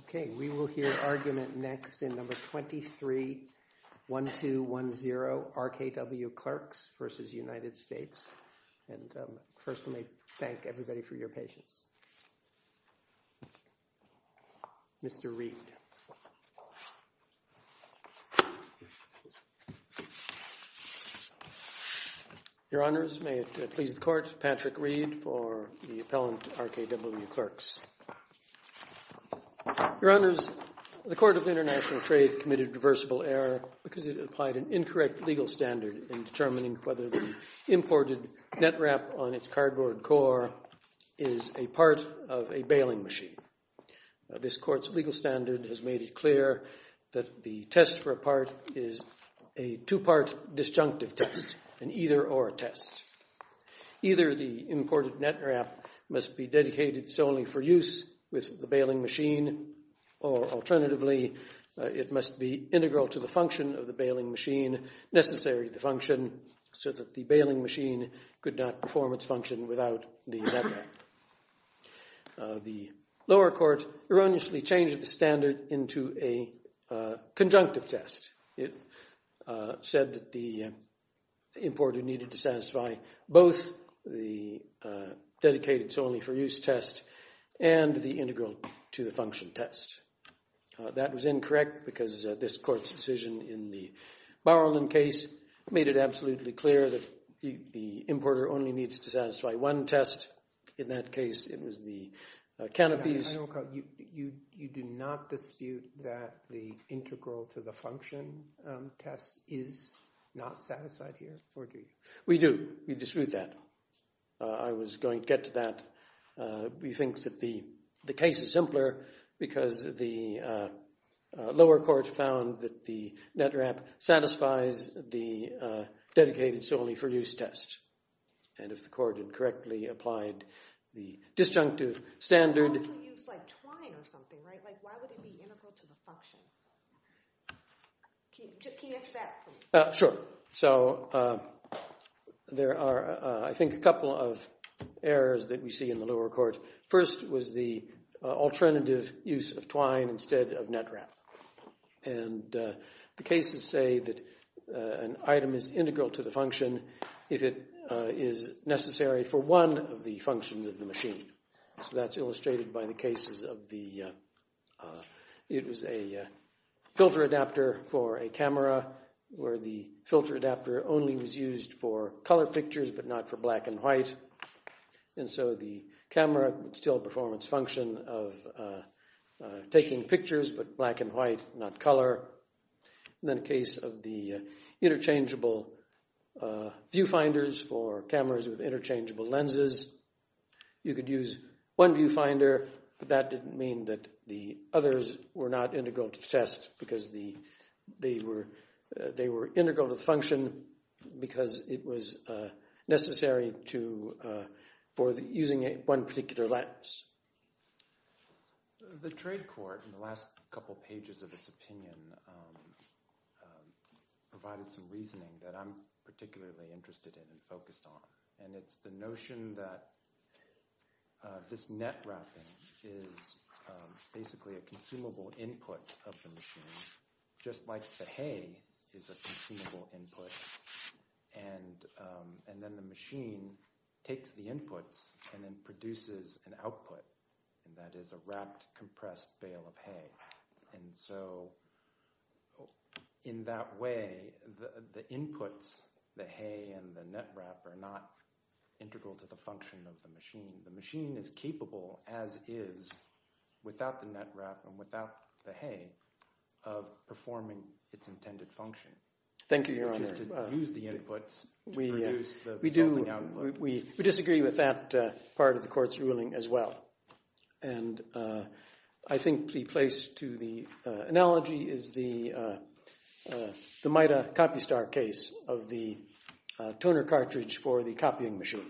Okay, we will hear argument next in No. 23-1210, RKW Klerks v. United States. And first, let me thank everybody for your patience. Mr. Reed. Your Honors, may it please the Court, Patrick Reed for the appellant RKW Klerks. Your Honors, the Court of International Trade committed reversible error because it applied an incorrect legal standard in determining whether the imported net wrap on its cardboard core is a part of a bailing machine. This Court's legal standard has made it clear that the test for a part is a two-part disjunctive test, an either-or test. Either the imported net wrap must be dedicated solely for use with the bailing machine, or alternatively, it must be integral to the function of the bailing machine, necessary to the function, so that the bailing machine could not perform its function without the net wrap. The lower court erroneously changed the standard into a conjunctive test. It said that the importer needed to satisfy both the dedicated solely for use test and the integral to the function test. That was incorrect because this Court's decision in the Bauerland case made it absolutely clear that the importer only needs to satisfy one test. In that case, it was the canopies. You do not dispute that the integral to the function test is not satisfied here, or do you? We do. We dispute that. I was going to get to that. We think that the case is simpler because the lower court found that the net wrap satisfies the dedicated solely for use test. And if the court had correctly applied the disjunctive standard… You could also use twine or something, right? Why would it be integral to the function? Can you answer that for me? Sure. So there are, I think, a couple of errors that we see in the lower court. First was the alternative use of twine instead of net wrap. And the cases say that an item is integral to the function if it is necessary for one of the functions of the machine. So that's illustrated by the cases of the… It was a filter adapter for a camera where the filter adapter only was used for color pictures, but not for black and white. And so the camera would still perform its function of taking pictures, but black and white, not color. And then a case of the interchangeable viewfinders for cameras with interchangeable lenses. You could use one viewfinder, but that didn't mean that the others were not integral to the test, because they were integral to the function because it was necessary for using one particular lens. The trade court in the last couple pages of its opinion provided some reasoning that I'm particularly interested in and focused on. And it's the notion that this net wrapping is basically a consumable input of the machine, just like the hay is a consumable input. And then the machine takes the inputs and then produces an output, and that is a wrapped, compressed bale of hay. And so in that way, the inputs, the hay and the net wrap, are not integral to the function of the machine. The machine is capable, as is, without the net wrap and without the hay, of performing its intended function. Thank you, Your Honor. To use the inputs to produce the resulting output. We disagree with that part of the court's ruling as well. And I think the place to the analogy is the MITA copy star case of the toner cartridge for the copying machine.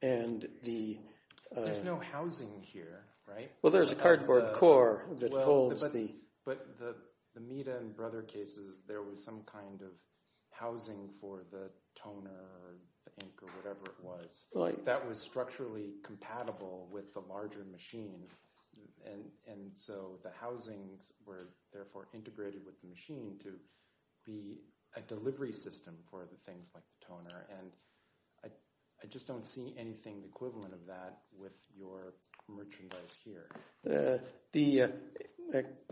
There's no housing here, right? Well, there's a cardboard core that holds the… But the MITA and Brother cases, there was some kind of housing for the toner or the ink or whatever it was. That was structurally compatible with the larger machine. And so the housings were therefore integrated with the machine to be a delivery system for the things like the toner. And I just don't see anything equivalent of that with your merchandise here.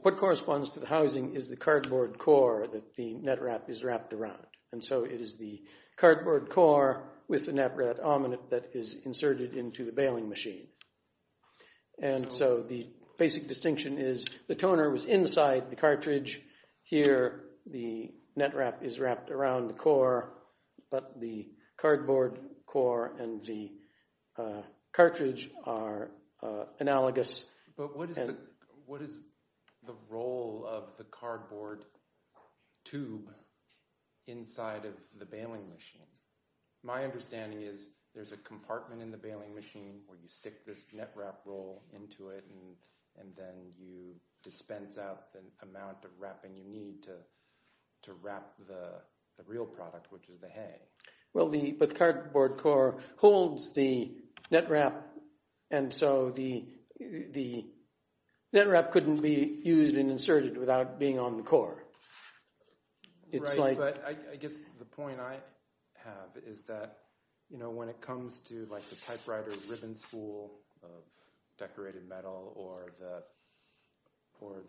What corresponds to the housing is the cardboard core that the net wrap is wrapped around. And so it is the cardboard core with the net wrap that is inserted into the bailing machine. And so the basic distinction is the toner was inside the cartridge. Here, the net wrap is wrapped around the core, but the cardboard core and the cartridge are analogous. But what is the role of the cardboard tube inside of the bailing machine? My understanding is there's a compartment in the bailing machine where you stick this net wrap roll into it. And then you dispense out the amount of wrapping you need to wrap the real product, which is the hay. Well, but the cardboard core holds the net wrap. And so the net wrap couldn't be used and inserted without being on the core. Right, but I guess the point I have is that when it comes to the typewriter ribbon spool of decorated metal or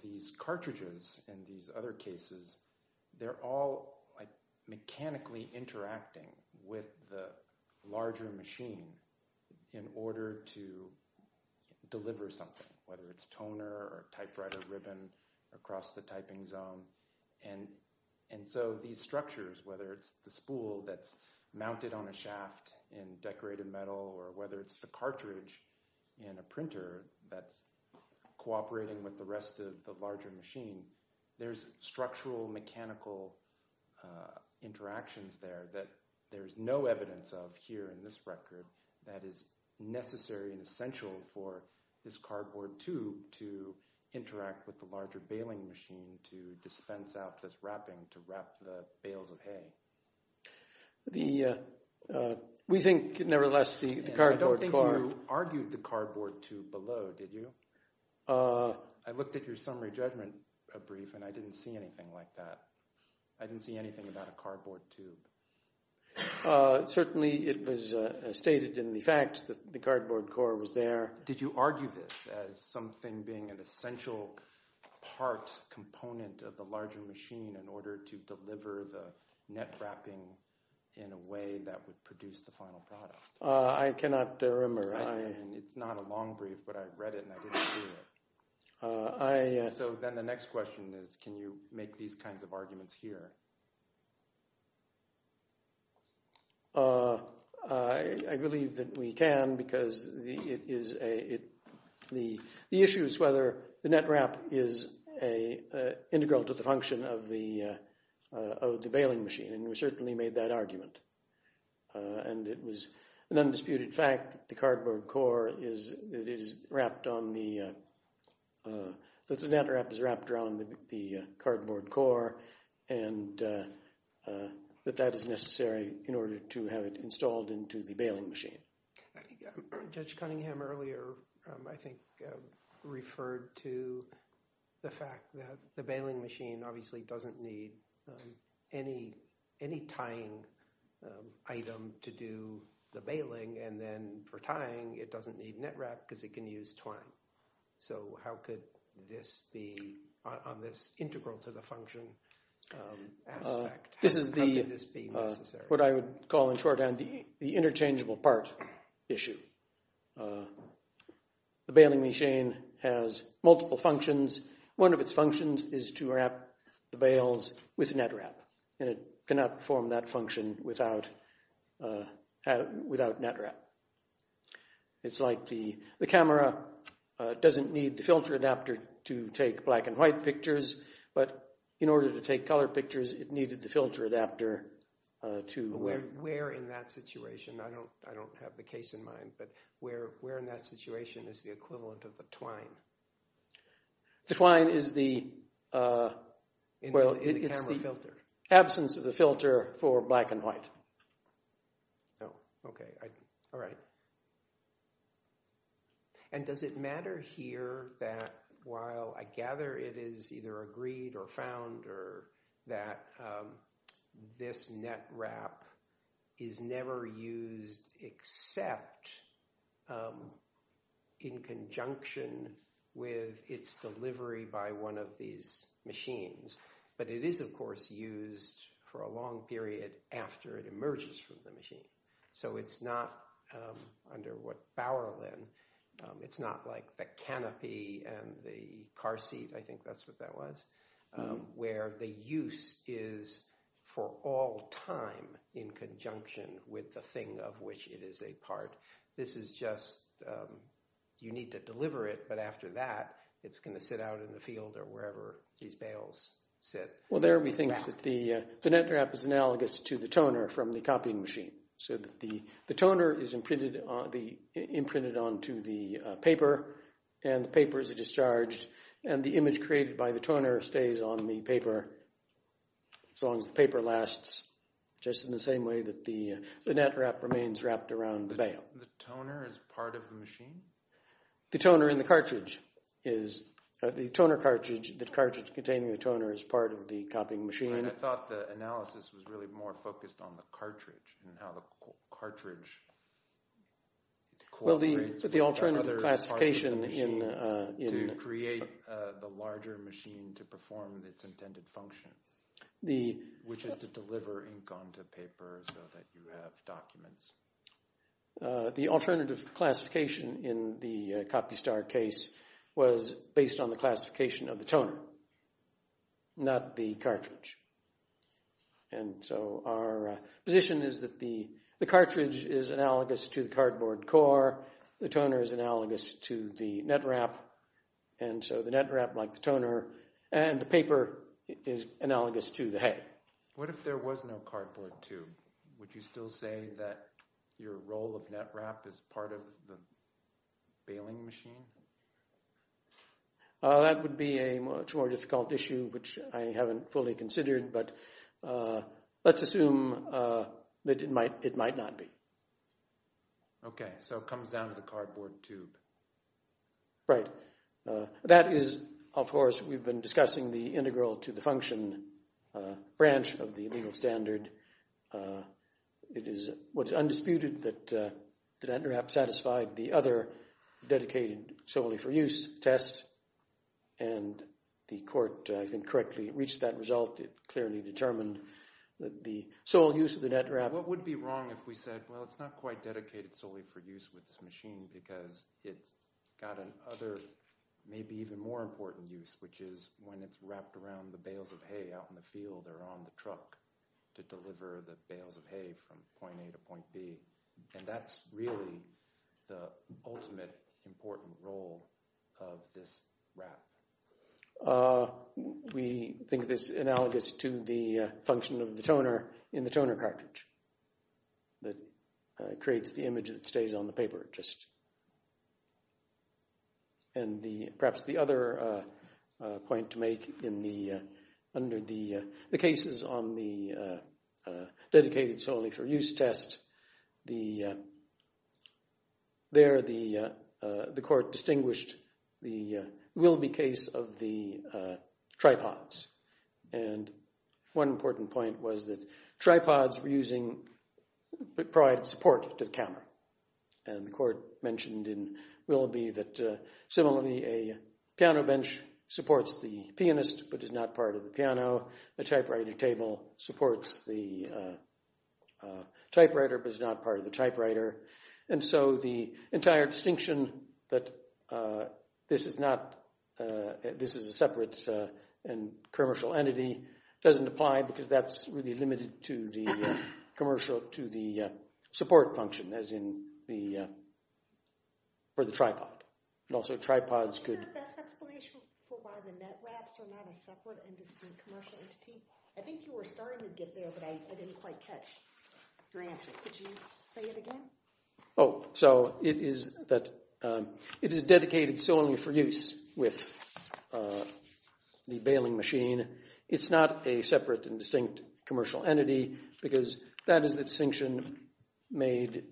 these cartridges and these other cases, they're all mechanically interacting with the larger machine in order to deliver something, whether it's toner or typewriter ribbon across the typing zone. And so these structures, whether it's the spool that's mounted on a shaft in decorated metal, or whether it's the cartridge in a printer that's cooperating with the rest of the larger machine, there's structural mechanical interactions there that there's no evidence of here in this record that is necessary and essential for this cardboard tube to interact with the larger bailing machine to dispense out this wrapping to wrap the bales of hay. We think, nevertheless, the cardboard core... I don't think you argued the cardboard tube below, did you? I looked at your summary judgment brief and I didn't see anything like that. I didn't see anything about a cardboard tube. Certainly it was stated in the facts that the cardboard core was there. Did you argue this as something being an essential part, component of the larger machine in order to deliver the net wrapping in a way that would produce the final product? I cannot remember. It's not a long brief, but I read it and I didn't see it. So then the next question is, can you make these kinds of arguments here? I believe that we can because the issue is whether the net wrap is integral to the function of the bailing machine, and we certainly made that argument. And it was an undisputed fact that the net wrap is wrapped around the cardboard core and that that is necessary in order to have it installed into the bailing machine. Judge Cunningham earlier, I think, referred to the fact that the bailing machine obviously doesn't need any tying item to do the bailing. And then for tying, it doesn't need net wrap because it can use twine. So how could this be on this integral to the function aspect? This is what I would call in shorthand the interchangeable part issue. The bailing machine has multiple functions. One of its functions is to wrap the bails with net wrap, and it cannot perform that function without net wrap. It's like the camera doesn't need the filter adapter to take black and white pictures, but in order to take color pictures, it needed the filter adapter. Where in that situation, I don't have the case in mind, but where in that situation is the equivalent of the twine? The twine is the absence of the filter for black and white. Oh, OK. All right. And does it matter here that while I gather it is either agreed or found or that this net wrap is never used except in conjunction with its delivery by one of these machines? But it is, of course, used for a long period after it emerges from the machine. So it's not under what Bauerlin, it's not like the canopy and the car seat. I think that's what that was, where the use is for all time in conjunction with the thing of which it is a part. This is just, you need to deliver it, but after that, it's going to sit out in the field or wherever these bails sit. Well, there we think that the net wrap is analogous to the toner from the copying machine. The toner is imprinted onto the paper, and the paper is discharged. And the image created by the toner stays on the paper as long as the paper lasts, just in the same way that the net wrap remains wrapped around the bail. The toner is part of the machine? The toner in the cartridge is, the toner cartridge, the cartridge containing the toner is part of the copying machine. I thought the analysis was really more focused on the cartridge and how the cartridge cooperates with the other parts of the machine to create the larger machine to perform its intended function, which is to deliver ink onto paper so that you have documents. The alternative classification in the copy star case was based on the classification of the toner, not the cartridge. And so our position is that the cartridge is analogous to the cardboard core, the toner is analogous to the net wrap, and so the net wrap, like the toner, and the paper is analogous to the hay. What if there was no cardboard tube? Would you still say that your role of net wrap is part of the bailing machine? That would be a much more difficult issue, which I haven't fully considered, but let's assume that it might not be. Okay, so it comes down to the cardboard tube. Right. That is, of course, we've been discussing the integral to the function branch of the legal standard. It is what's undisputed that the net wrap satisfied the other dedicated solely for use test, and the court, I think, correctly reached that result. It clearly determined that the sole use of the net wrap… It's got an other, maybe even more important use, which is when it's wrapped around the bales of hay out in the field or on the truck to deliver the bales of hay from point A to point B. And that's really the ultimate important role of this wrap. We think this analogous to the function of the toner in the toner cartridge that creates the image that stays on the paper. And perhaps the other point to make under the cases on the dedicated solely for use test, there the court distinguished the will-be case of the tripods. And one important point was that tripods provided support to the camera. And the court mentioned in will-be that similarly a piano bench supports the pianist but is not part of the piano. The typewriter table supports the typewriter but is not part of the typewriter. And so the entire distinction that this is a separate and commercial entity doesn't apply because that's really limited to the commercial, to the support function, as in for the tripod. And also tripods could… I think you were starting to get there but I didn't quite catch your answer. Could you say it again? Oh, so it is that it is dedicated solely for use with the baling machine. It's not a separate and distinct commercial entity because that is the distinction made.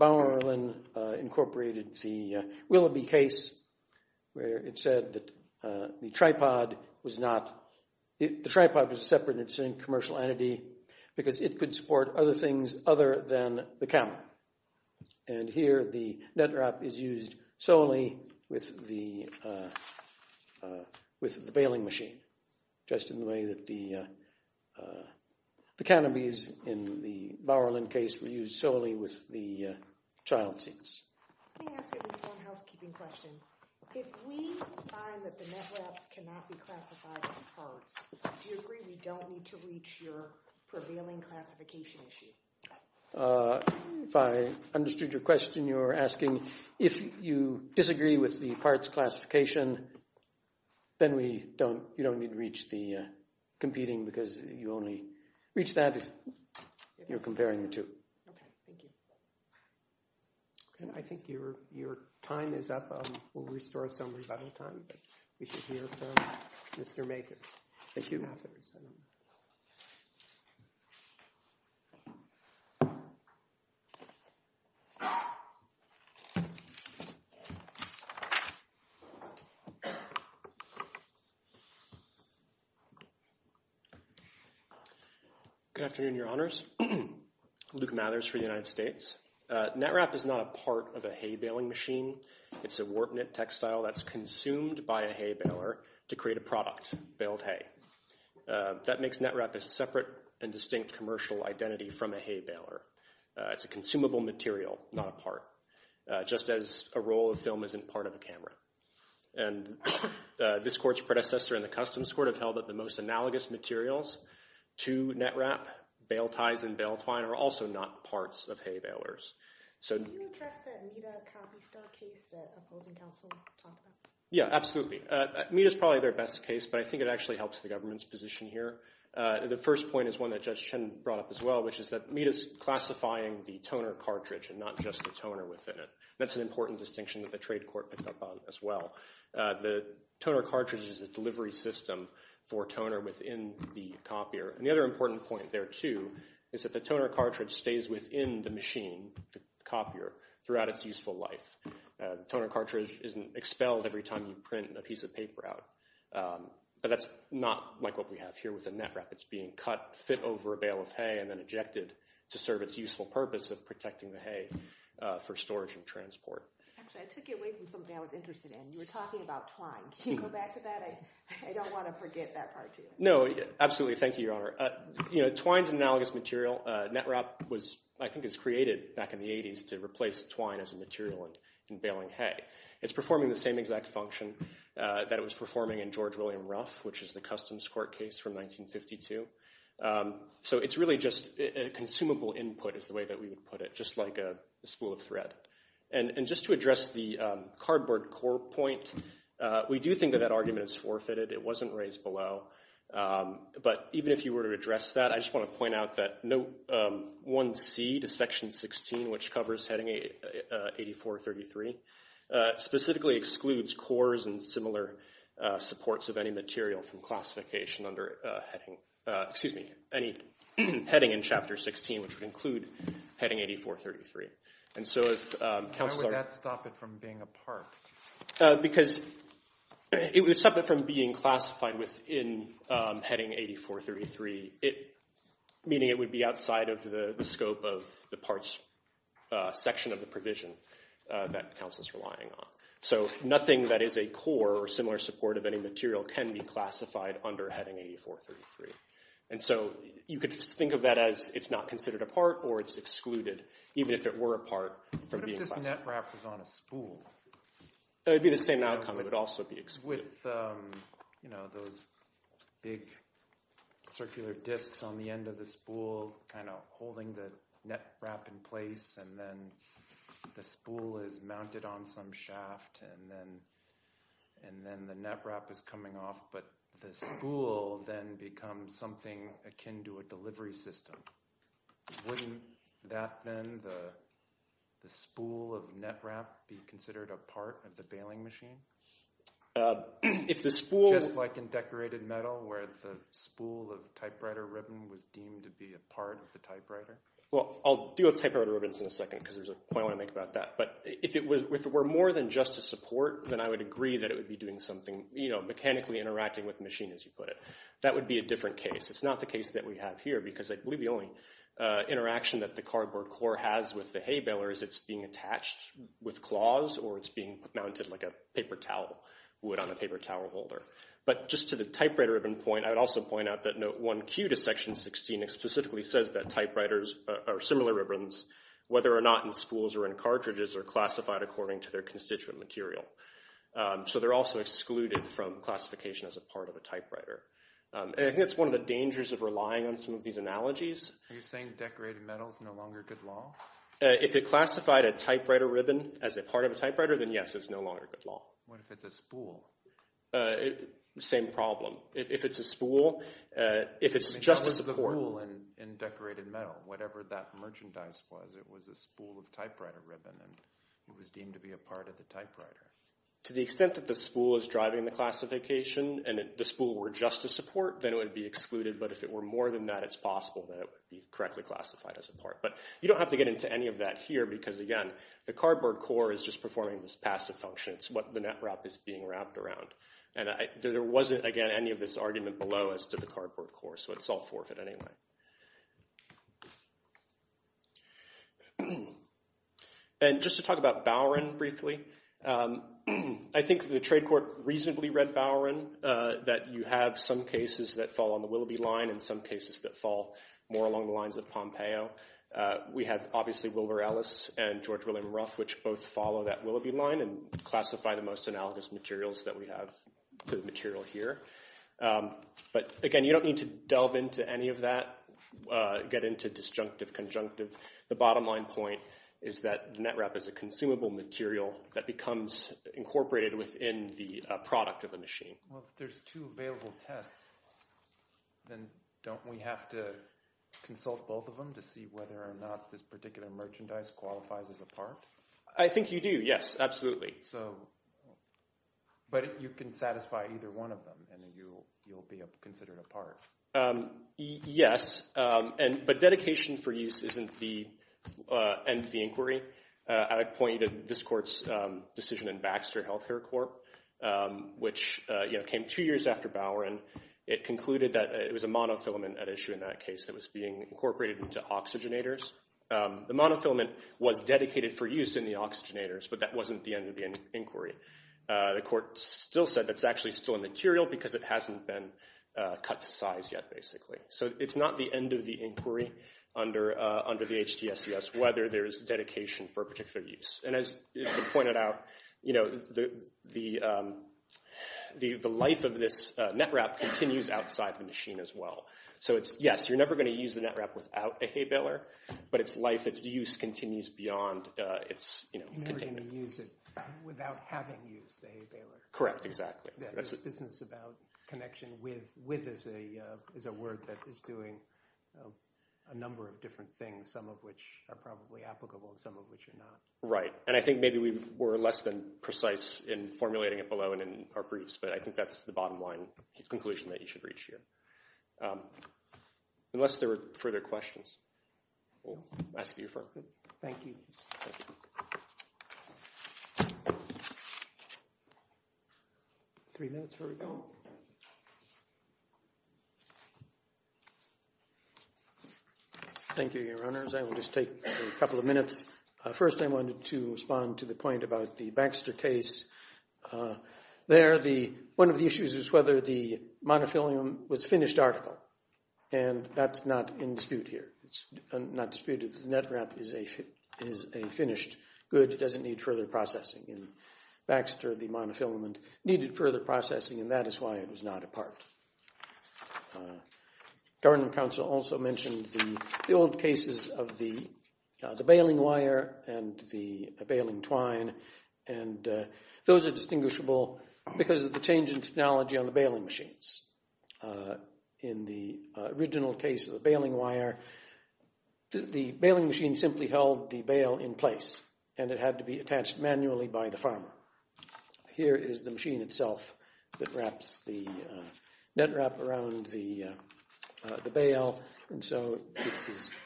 Bauerlin incorporated the will-be case where it said that the tripod was not… The tripod was a separate and distinct commercial entity because it could support other things other than the camera. And here the netwrap is used solely with the baling machine just in the way that the canopies in the Bauerlin case were used solely with the child seats. Let me ask you this one housekeeping question. If we find that the netwraps cannot be classified as parts, do you agree we don't need to reach your prevailing classification issue? If I understood your question, you're asking if you disagree with the parts classification, then you don't need to reach the competing because you only reach that if you're comparing the two. Okay, thank you. I think your time is up. We'll restore some rebuttal time but we should hear from Mr. Makers. Thank you. Good afternoon, Your Honors. Luke Mathers for the United States. Netwrap is not a part of a hay baling machine. It's a warp-knit textile that's consumed by a hay baler to create a product, baled hay. That makes netwrap a separate and distinct commercial identity from a hay baler. It's a consumable material, not a part, just as a roll of film isn't part of a camera. And this Court's predecessor in the Customs Court have held that the most analogous materials to netwrap, bale ties and bale twine, are also not parts of hay balers. Can you address that META copy star case that Upholding Counsel talked about? Yeah, absolutely. META is probably their best case, but I think it actually helps the government's position here. The first point is one that Judge Chen brought up as well, which is that META is classifying the toner cartridge and not just the toner within it. That's an important distinction that the trade court picked up on as well. The toner cartridge is a delivery system for toner within the copier. And the other important point there, too, is that the toner cartridge stays within the machine, the copier, throughout its useful life. The toner cartridge isn't expelled every time you print a piece of paper out. But that's not like what we have here with the netwrap. It's being cut, fit over a bale of hay, and then ejected to serve its useful purpose of protecting the hay for storage and transport. Actually, I took it away from something I was interested in. You were talking about twine. Can you go back to that? I don't want to forget that part, too. No, absolutely. Thank you, Your Honor. Twine's an analogous material. Netwrap, I think, was created back in the 80s to replace twine as a material in baling hay. It's performing the same exact function that it was performing in George William Ruff, which is the Customs Court case from 1952. So it's really just a consumable input is the way that we would put it, just like a spool of thread. And just to address the cardboard core point, we do think that that argument is forfeited. It wasn't raised below. But even if you were to address that, I just want to point out that Note 1C to Section 16, which covers Heading 8433, specifically excludes cores and similar supports of any material from classification under any heading in Chapter 16, which would include Heading 8433. Why would that stop it from being a part? Because it would stop it from being classified within Heading 8433, meaning it would be outside of the scope of the parts section of the provision that counsel is relying on. So nothing that is a core or similar support of any material can be classified under Heading 8433. And so you could think of that as it's not considered a part or it's excluded, even if it were a part from being classified. If the netwrap was on a spool – It would be the same outcome. It would also be excluded. With those big circular disks on the end of the spool kind of holding the netwrap in place, and then the spool is mounted on some shaft, and then the netwrap is coming off, but the spool then becomes something akin to a delivery system. Wouldn't that then, the spool of netwrap, be considered a part of the bailing machine? If the spool – Just like in decorated metal where the spool of typewriter ribbon was deemed to be a part of the typewriter? Well, I'll deal with typewriter ribbons in a second because there's a point I want to make about that. But if it were more than just a support, then I would agree that it would be doing something, you know, mechanically interacting with the machine, as you put it. That would be a different case. It's not the case that we have here because, I believe, the only interaction that the cardboard core has with the hay baler is it's being attached with claws or it's being mounted like a paper towel would on a paper towel holder. But just to the typewriter ribbon point, I would also point out that Note 1Q to Section 16 specifically says that typewriters or similar ribbons, whether or not in spools or in cartridges, are classified according to their constituent material. So they're also excluded from classification as a part of a typewriter. And I think that's one of the dangers of relying on some of these analogies. Are you saying decorated metal is no longer good law? If it classified a typewriter ribbon as a part of a typewriter, then yes, it's no longer good law. What if it's a spool? Same problem. If it's a spool, if it's just a support. If it was a spool in decorated metal, whatever that merchandise was, it was a spool of typewriter ribbon and it was deemed to be a part of the typewriter. To the extent that the spool is driving the classification and the spool were just a support, then it would be excluded. But if it were more than that, it's possible that it would be correctly classified as a part. But you don't have to get into any of that here because, again, the cardboard core is just performing this passive function. It's what the netwrap is being wrapped around. And there wasn't, again, any of this argument below as to the cardboard core, so it's all forfeit anyway. Okay. And just to talk about Bowron briefly, I think the trade court reasonably read Bowron, that you have some cases that fall on the Willoughby line and some cases that fall more along the lines of Pompeo. We have, obviously, Wilbur Ellis and George William Ruff, which both follow that Willoughby line and classify the most analogous materials that we have to the material here. But, again, you don't need to delve into any of that, get into disjunctive, conjunctive. The bottom line point is that the netwrap is a consumable material that becomes incorporated within the product of the machine. Well, if there's two available tests, then don't we have to consult both of them to see whether or not this particular merchandise qualifies as a part? I think you do, yes, absolutely. But you can satisfy either one of them, and then you'll be considered a part. Yes, but dedication for use isn't the end of the inquiry. I'd point you to this court's decision in Baxter Healthcare Corp., which came two years after Bowron. It concluded that it was a monofilament at issue in that case that was being incorporated into oxygenators. The monofilament was dedicated for use in the oxygenators, but that wasn't the end of the inquiry. The court still said that's actually still a material because it hasn't been cut to size yet, basically. So it's not the end of the inquiry under the HDSES whether there is dedication for a particular use. And as you pointed out, the life of this netwrap continues outside the machine as well. So, yes, you're never going to use the netwrap without a hay baler, but its life, its use, continues beyond its container. You're never going to use it without having used the hay baler. Correct, exactly. The business about connection with is a word that is doing a number of different things, some of which are probably applicable and some of which are not. Right, and I think maybe we were less than precise in formulating it below and in our briefs, but I think that's the bottom line conclusion that you should reach here. Unless there are further questions, we'll ask you first. Thank you. Three minutes before we go. Thank you, Your Honors. I will just take a couple of minutes. First, I wanted to respond to the point about the Baxter case. There, one of the issues is whether the monofilament was finished article, and that's not in dispute here. It's not disputed. The netwrap is a finished good. It doesn't need further processing. In Baxter, the monofilament needed further processing, and that is why it was not a part. Government counsel also mentioned the old cases of the baling wire and the baling twine, and those are distinguishable because of the change in technology on the baling machines. In the original case of the baling wire, the baling machine simply held the bale in place, and it had to be attached manually by the farmer. Here is the machine itself that wraps the netwrap around the bale, and so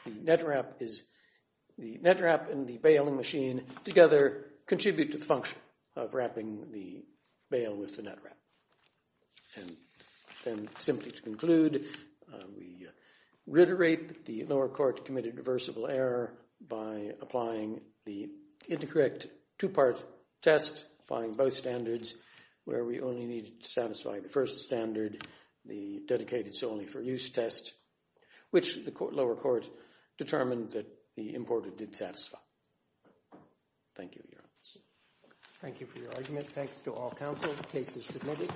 the netwrap and the baling machine together contribute to the function of wrapping the bale with the netwrap. And then simply to conclude, we reiterate the lower court committed reversible error by applying the incorrect two-part test, applying both standards, where we only needed to satisfy the first standard, the dedicated-only-for-use test, which the lower court determined that the importer did satisfy. Thank you, Your Honour. Thank you for your argument. Thanks to all counsel. The case is submitted.